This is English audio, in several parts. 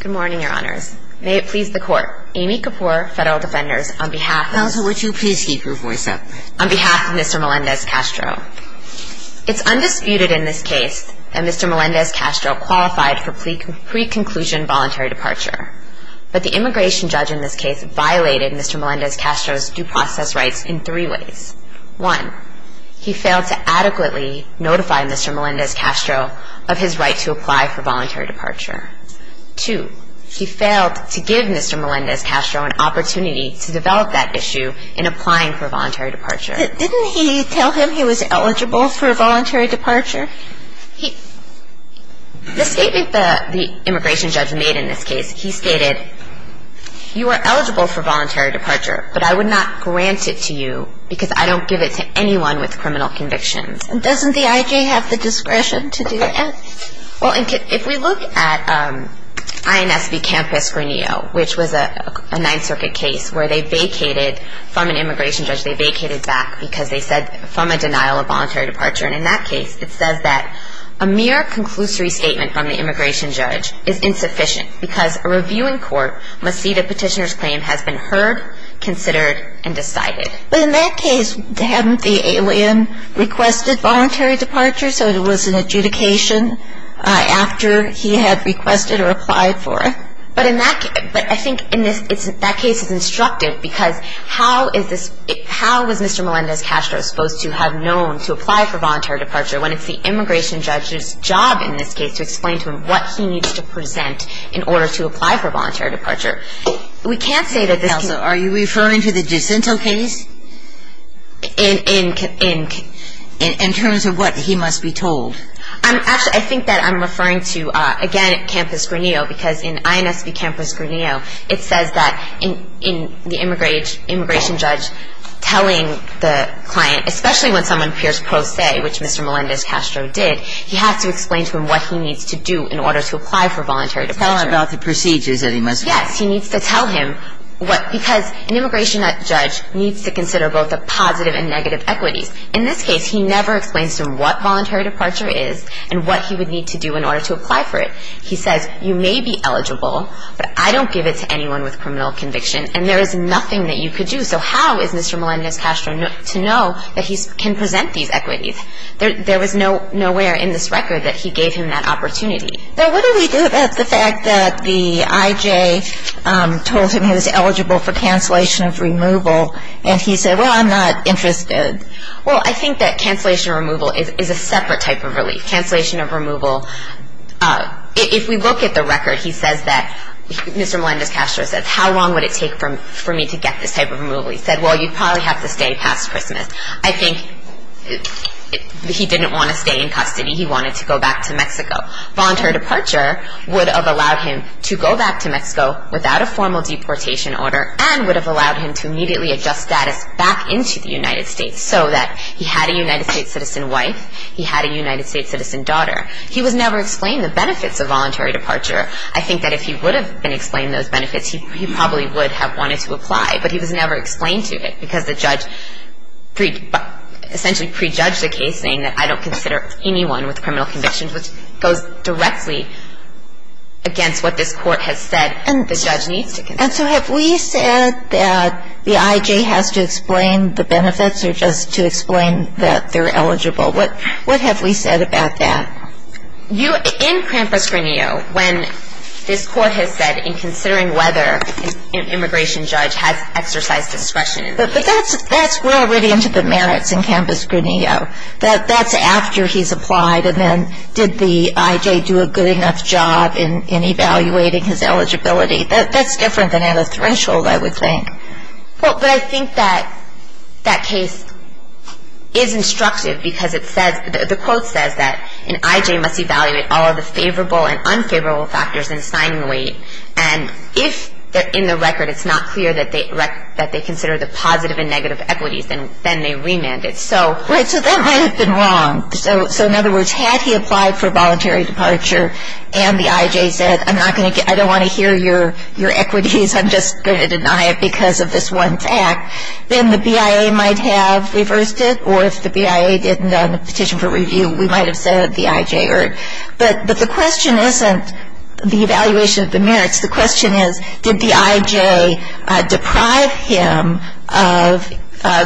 Good morning, Your Honors. May it please the Court, Amy Kapoor, Federal Defenders, on behalf of Counsel, would you please keep your voice up? On behalf of Mr. Melendez-Castro. It's undisputed in this case that Mr. Melendez-Castro qualified for pre-conclusion voluntary departure. But the immigration judge in this case violated Mr. Melendez-Castro's due process rights in three ways. One, he failed to adequately notify Mr. Melendez-Castro of his right to apply for voluntary departure. Two, he failed to give Mr. Melendez-Castro an opportunity to develop that issue in applying for voluntary departure. Didn't he tell him he was eligible for voluntary departure? The statement the immigration judge made in this case, he stated, You are eligible for voluntary departure, but I would not grant it to you because I don't give it to anyone with criminal convictions. Doesn't the I.J. have the discretion to do that? Well, if we look at I.N.S. v. Campos-Granillo, which was a Ninth Circuit case, where they vacated from an immigration judge, they vacated back because they said, from a denial of voluntary departure. And in that case, it says that, A mere conclusory statement from the immigration judge is insufficient because a reviewing court must see the petitioner's claim has been heard, considered, and decided. But in that case, hadn't the alien requested voluntary departure? So it was an adjudication after he had requested or applied for it. But in that case, I think that case is instructive because how was Mr. Melendez-Castro supposed to have known to apply for voluntary departure when it's the immigration judge's job in this case to explain to him what he needs to present in order to apply for voluntary departure? Are you referring to the Jacinto case in terms of what he must be told? Actually, I think that I'm referring to, again, Campos-Granillo because in I.N.S. v. Campos-Granillo, it says that in the immigration judge telling the client, especially when someone appears pro se, which Mr. Melendez-Castro did, he has to explain to him what he needs to do in order to apply for voluntary departure. Tell him about the procedures that he must follow. Yes, he needs to tell him what, because an immigration judge needs to consider both the positive and negative equities. In this case, he never explains to him what voluntary departure is and what he would need to do in order to apply for it. He says, you may be eligible, but I don't give it to anyone with criminal conviction and there is nothing that you could do. So how is Mr. Melendez-Castro to know that he can present these equities? There was nowhere in this record that he gave him that opportunity. Now, what do we do about the fact that the IJ told him he was eligible for cancellation of removal and he said, well, I'm not interested? Well, I think that cancellation of removal is a separate type of relief. Cancellation of removal, if we look at the record, he says that, Mr. Melendez-Castro says, how long would it take for me to get this type of removal? He said, well, you'd probably have to stay past Christmas. I think he didn't want to stay in custody. He wanted to go back to Mexico. Voluntary departure would have allowed him to go back to Mexico without a formal deportation order and would have allowed him to immediately adjust status back into the United States so that he had a United States citizen wife, he had a United States citizen daughter. He was never explained the benefits of voluntary departure. I think that if he would have been explained those benefits, he probably would have wanted to apply, but he was never explained to it because the judge essentially prejudged the case, saying that I don't consider anyone with criminal convictions, which goes directly against what this Court has said the judge needs to consider. And so have we said that the I.G. has to explain the benefits or just to explain that they're eligible? What have we said about that? In Campus Grineo, when this Court has said, in considering whether an immigration judge has exercised discretion in the case. But that's, we're already into the merits in Campus Grineo. That's after he's applied and then did the I.J. do a good enough job in evaluating his eligibility? That's different than at a threshold, I would think. Well, but I think that that case is instructive because it says, the quote says that an I.J. must evaluate all of the favorable and unfavorable factors in assigning weight. And if in the record it's not clear that they consider the positive and negative equities, then they remand it. Right, so that might have been wrong. So in other words, had he applied for voluntary departure and the I.J. said, I don't want to hear your equities, I'm just going to deny it because of this one fact, then the BIA might have reversed it. Or if the BIA didn't on the petition for review, we might have said the I.J. But the question isn't the evaluation of the merits. The question is, did the I.J. deprive him of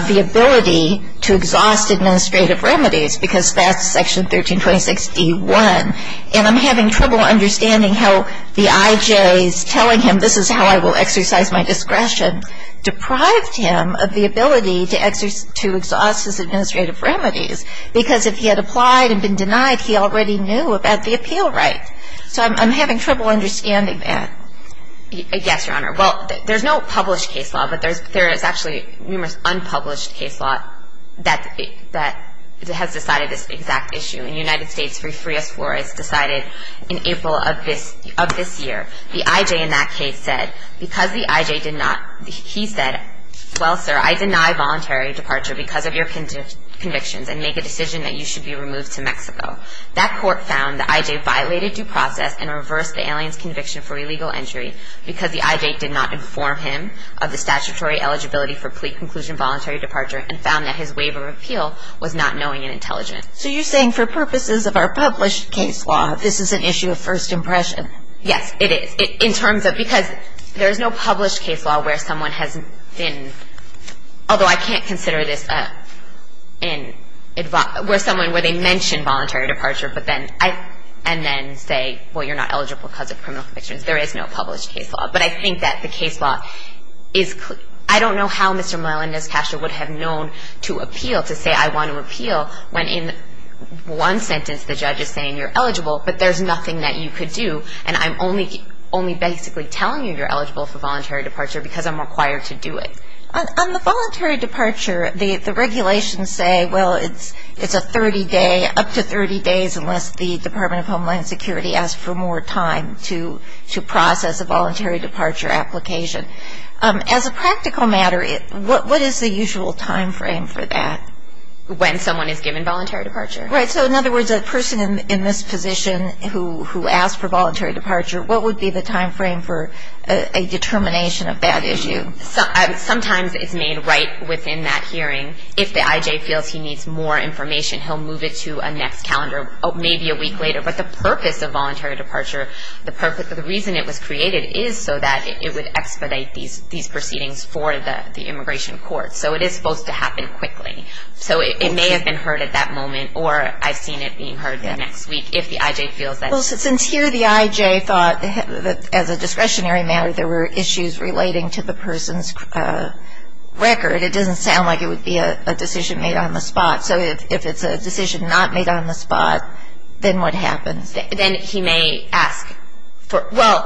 the ability to exhaust administrative remedies? Because that's Section 1326d.1. And I'm having trouble understanding how the I.J.'s telling him, this is how I will exercise my discretion, deprived him of the ability to exhaust his administrative remedies. Because if he had applied and been denied, he already knew about the appeal right. So I'm having trouble understanding that. Yes, Your Honor. Well, there's no published case law, but there is actually numerous unpublished case law that has decided this exact issue. In the United States, Free Us, Floor Us decided in April of this year, the I.J. in that case said, because the I.J. did not, he said, well, sir, I deny voluntary departure because of your convictions and make a decision that you should be removed to Mexico. That court found the I.J. violated due process and reversed the alien's conviction for illegal entry because the I.J. did not inform him of the statutory eligibility for plea conclusion voluntary departure and found that his waiver of appeal was not knowing and intelligent. So you're saying for purposes of our published case law, this is an issue of first impression. Yes, it is. In terms of, because there is no published case law where someone has been, although I can't consider this where someone where they mention voluntary departure and then say, well, you're not eligible because of criminal convictions. There is no published case law, but I think that the case law is clear. I don't know how Mr. Miland and Ms. Castro would have known to appeal, to say I want to appeal when in one sentence the judge is saying you're eligible, but there's nothing that you could do, and I'm only basically telling you you're eligible for voluntary departure because I'm required to do it. On the voluntary departure, the regulations say, well, it's a 30-day, up to 30 days unless the Department of Homeland Security asks for more time to process a voluntary departure application. As a practical matter, what is the usual time frame for that? When someone is given voluntary departure. Right, so in other words, a person in this position who asks for voluntary departure, what would be the time frame for a determination of that issue? Sometimes it's made right within that hearing. If the IJ feels he needs more information, he'll move it to a next calendar, maybe a week later, but the purpose of voluntary departure, the reason it was created is so that it would expedite these proceedings for the immigration court. So it is supposed to happen quickly. So it may have been heard at that moment or I've seen it being heard the next week if the IJ feels that. Well, since here the IJ thought that as a discretionary matter, there were issues relating to the person's record, it doesn't sound like it would be a decision made on the spot. So if it's a decision not made on the spot, then what happens? Then he may ask for, well,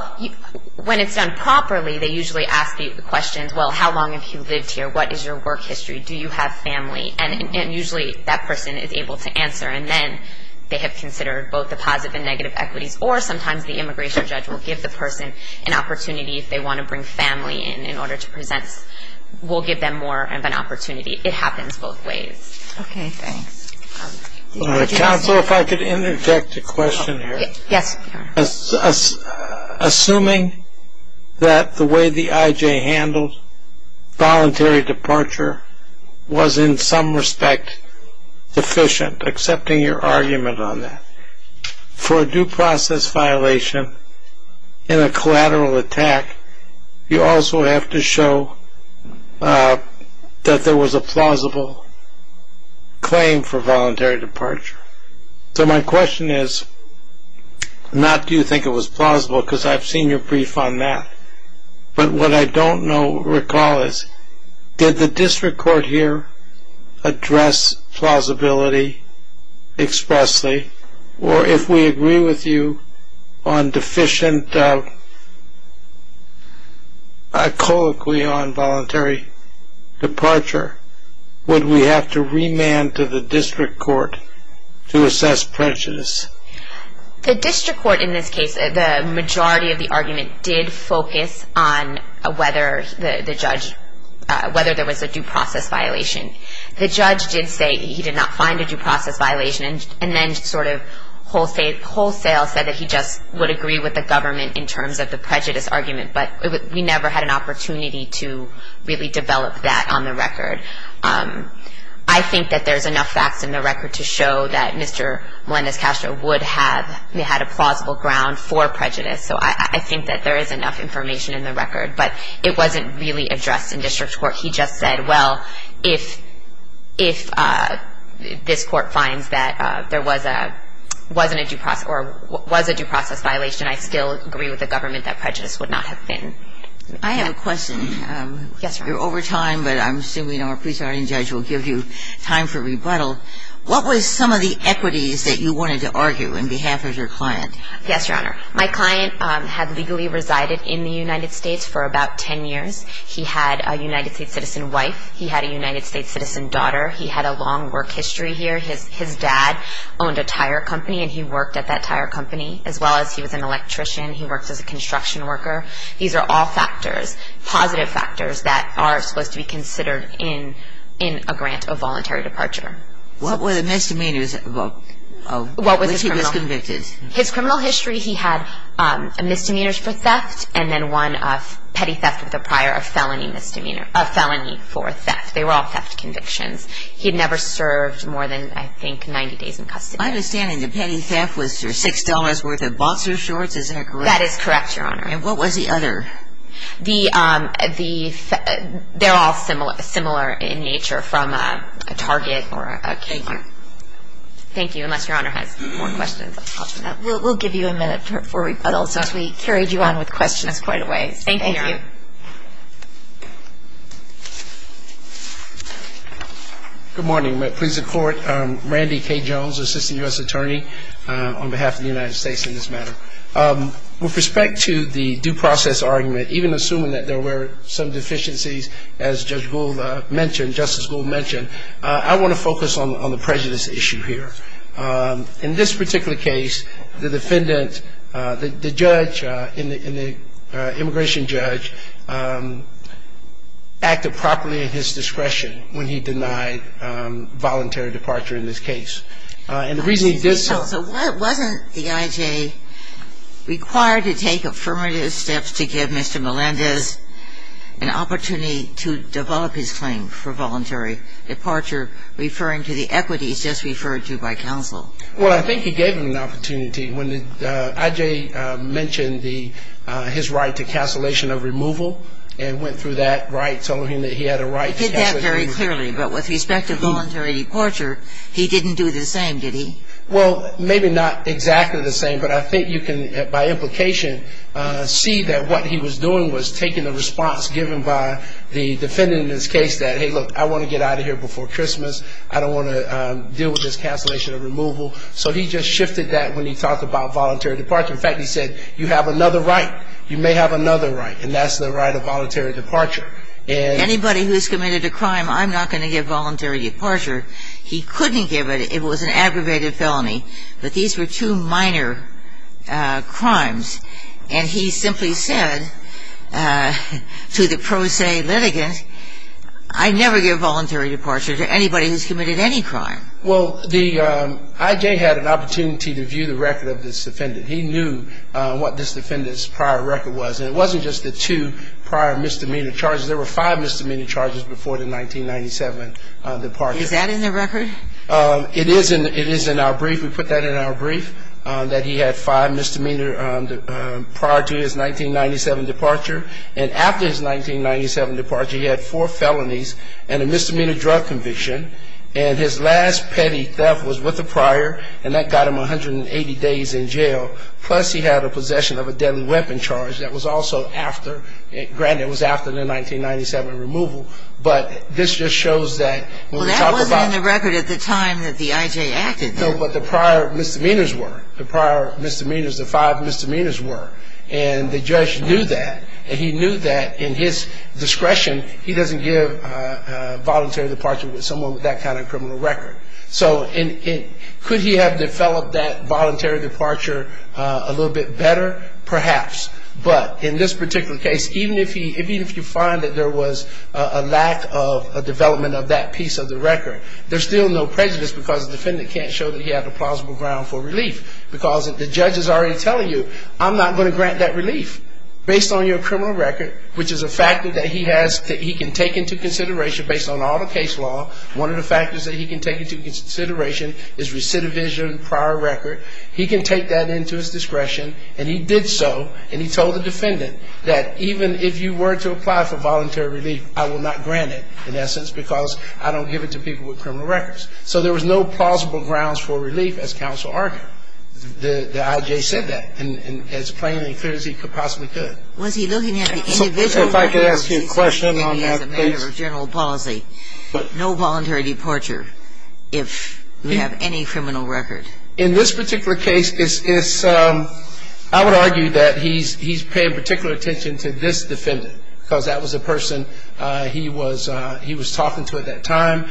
when it's done properly, they usually ask the questions, well, how long have you lived here? What is your work history? Do you have family? And usually that person is able to answer. And then they have considered both the positive and negative equities or sometimes the immigration judge will give the person an opportunity if they want to bring family in in order to present. We'll give them more of an opportunity. It happens both ways. Okay, thanks. Counsel, if I could interject a question here. Yes. Assuming that the way the IJ handled voluntary departure was in some respect deficient, accepting your argument on that, for a due process violation in a collateral attack, you also have to show that there was a plausible claim for voluntary departure. So my question is not do you think it was plausible because I've seen your brief on that, but what I don't recall is did the district court here address plausibility expressly or if we agree with you on deficient colloquy on voluntary departure, would we have to remand to the district court to assess prejudice? The district court in this case, the majority of the argument did focus on whether the judge, whether there was a due process violation. The judge did say he did not find a due process violation and then sort of wholesale said that he just would agree with the government in terms of the prejudice argument. But we never had an opportunity to really develop that on the record. I think that there's enough facts in the record to show that Mr. Melendez-Castro would have had a plausible ground for prejudice. So I think that there is enough information in the record. But it wasn't really addressed in district court. He just said, well, if this court finds that there was a due process violation, I still agree with the government that prejudice would not have been. I have a question. Yes, Your Honor. You're over time, but I'm assuming our presiding judge will give you time for rebuttal. What were some of the equities that you wanted to argue on behalf of your client? Yes, Your Honor. My client had legally resided in the United States for about 10 years. He had a United States citizen wife. He had a United States citizen daughter. He had a long work history here. His dad owned a tire company, and he worked at that tire company, as well as he was an electrician. He worked as a construction worker. These are all factors, positive factors, that are supposed to be considered in a grant of voluntary departure. What were the misdemeanors of which he was convicted? His criminal history, he had misdemeanors for theft and then one of petty theft with a prior, a felony for theft. They were all theft convictions. He had never served more than, I think, 90 days in custody. My understanding, the petty theft was for $6 worth of boxer shorts. Is that correct? That is correct, Your Honor. And what was the other? They're all similar in nature from a Target or a Kmart. Thank you. Thank you, unless Your Honor has more questions. We'll give you a minute for rebuttals, since we carried you on with questions quite a ways. Thank you, Your Honor. Thank you. Good morning. My pleas at court, Randy K. Jones, Assistant U.S. Attorney, on behalf of the United States in this matter. With respect to the due process argument, even assuming that there were some deficiencies as Judge Gould mentioned, Justice Gould mentioned, I want to focus on the prejudice issue here. In this particular case, the defendant, the judge, and the immigration judge acted properly at his discretion when he denied voluntary departure in this case. So wasn't the I.J. required to take affirmative steps to give Mr. Melendez an opportunity to develop his claim for voluntary departure, referring to the equities just referred to by counsel? Well, I think he gave him an opportunity. When the I.J. mentioned his right to cancellation of removal and went through that right, telling him that he had a right to cancellation of removal. He did that very clearly. But with respect to voluntary departure, he didn't do the same, did he? Well, maybe not exactly the same. But I think you can, by implication, see that what he was doing was taking the response given by the defendant in this case that, hey, look, I want to get out of here before Christmas. I don't want to deal with this cancellation of removal. So he just shifted that when he talked about voluntary departure. In fact, he said, you have another right. You may have another right, and that's the right of voluntary departure. Anybody who's committed a crime, I'm not going to give voluntary departure. He couldn't give it. It was an aggravated felony. But these were two minor crimes. And he simply said to the pro se litigant, I never give voluntary departure to anybody who's committed any crime. Well, the I.J. had an opportunity to view the record of this defendant. He knew what this defendant's prior record was. And it wasn't just the two prior misdemeanor charges. There were five misdemeanor charges before the 1997 departure. Is that in the record? It is in our brief. We put that in our brief, that he had five misdemeanor prior to his 1997 departure. And after his 1997 departure, he had four felonies and a misdemeanor drug conviction. And his last petty theft was with a prior, and that got him 180 days in jail. Plus, he had a possession of a deadly weapon charge that was also after. Granted, it was after the 1997 removal. But this just shows that when we talk about... Well, that wasn't in the record at the time that the I.J. acted. No, but the prior misdemeanors were. The prior misdemeanors, the five misdemeanors were. And the judge knew that. And he knew that in his discretion, he doesn't give voluntary departure to someone with that kind of criminal record. So could he have developed that voluntary departure a little bit better? Perhaps. But in this particular case, even if you find that there was a lack of development of that piece of the record, there's still no prejudice because the defendant can't show that he had a plausible ground for relief. Because the judge is already telling you, I'm not going to grant that relief. Based on your criminal record, which is a factor that he can take into consideration based on all the case law, one of the factors that he can take into consideration is recidivism, prior record. He can take that into his discretion. And he did so. And he told the defendant that even if you were to apply for voluntary relief, I will not grant it, in essence, because I don't give it to people with criminal records. So there was no plausible grounds for relief, as counsel argued. The I.J. said that as plain and clear as he possibly could. If I could ask you a question on that, please. As a matter of general policy, no voluntary departure if you have any criminal record. In this particular case, I would argue that he's paying particular attention to this defendant because that was a person he was talking to at that time.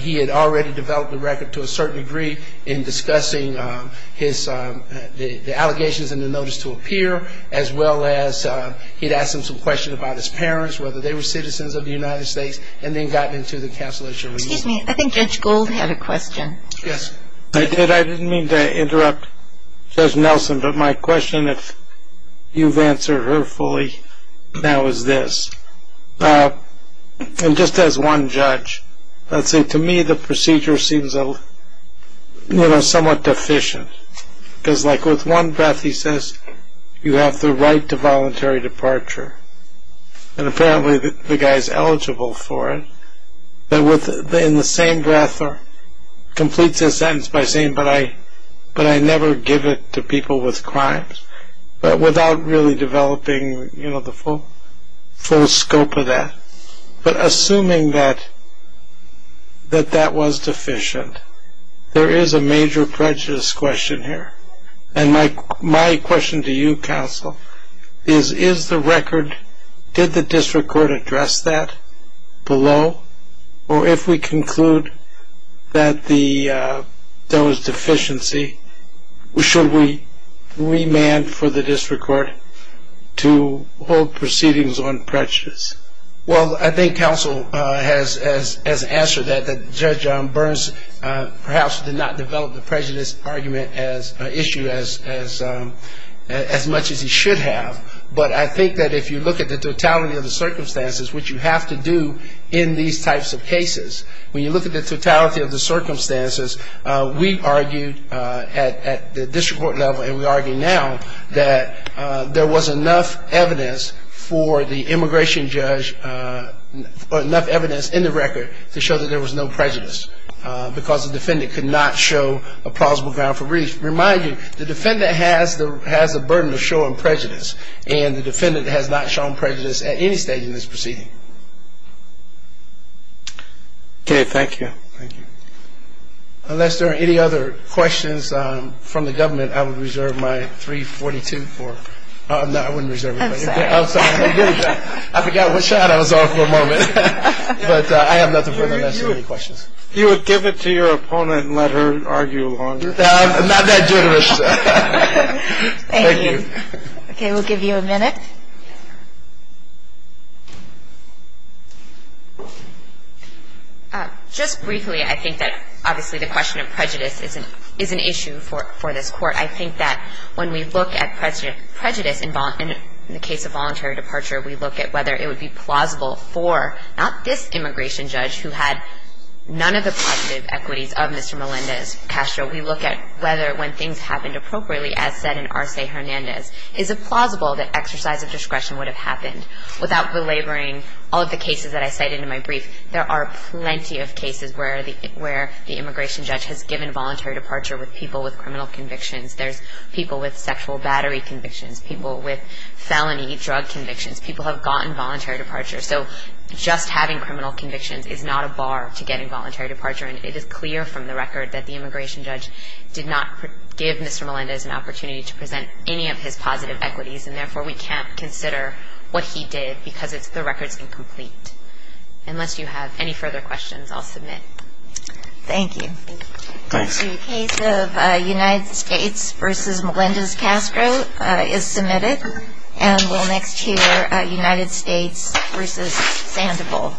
He had already developed the record to a certain degree in discussing the allegations in the notice to appear, as well as he had asked him some questions about his parents, whether they were citizens of the United States, and then gotten into the counsel issue. Excuse me. I think Judge Gould had a question. Yes. I did. I didn't mean to interrupt Judge Nelson, but my question, if you've answered her fully now, is this. And just as one judge, let's say to me the procedure seems somewhat deficient because like with one breath he says, you have the right to voluntary departure, and apparently the guy's eligible for it, but in the same breath completes his sentence by saying, but I never give it to people with crimes, but without really developing, you know, the full scope of that. But assuming that that was deficient, there is a major prejudice question here. And my question to you, counsel, is, is the record, did the district court address that below? Or if we conclude that there was deficiency, should we remand for the district court to hold proceedings on prejudice? Well, I think counsel has answered that, that Judge Burns perhaps did not develop the prejudice argument as an issue as much as he should have. But I think that if you look at the totality of the circumstances, which you have to do in these types of cases, when you look at the totality of the circumstances, we argued at the district court level, and we argue now, that there was enough evidence for the immigration judge, enough evidence in the record to show that there was no prejudice, because the defendant could not show a plausible ground for breach. Remind you, the defendant has the burden of showing prejudice, and the defendant has not shown prejudice at any stage in this proceeding. Okay, thank you. Thank you. Unless there are any other questions from the government, I would reserve my 342 for, no, I wouldn't reserve it. I'm sorry. I forgot what shot I was on for a moment. But I have nothing for the rest of the questions. You would give it to your opponent and let her argue along. I'm not that generous. Thank you. Okay, we'll give you a minute. Just briefly, I think that, obviously, the question of prejudice is an issue for this Court. I think that when we look at prejudice in the case of voluntary departure, we look at whether it would be plausible for not this immigration judge, who had none of the positive equities of Mr. Melendez-Castro, we look at whether when things happened appropriately, as said in Arce-Hernandez, is it plausible that exercise of discretion, without belaboring all of the cases that I cited in my brief, there are plenty of cases where the immigration judge has given voluntary departure with people with criminal convictions. There's people with sexual battery convictions, people with felony drug convictions. People have gotten voluntary departure. So just having criminal convictions is not a bar to getting voluntary departure. And it is clear from the record that the immigration judge did not give Mr. Melendez an opportunity to present any of his positive equities. And, therefore, we can't consider what he did because the record is incomplete. Unless you have any further questions, I'll submit. Thank you. The case of United States v. Melendez-Castro is submitted. And we'll next hear United States v. Sandoval.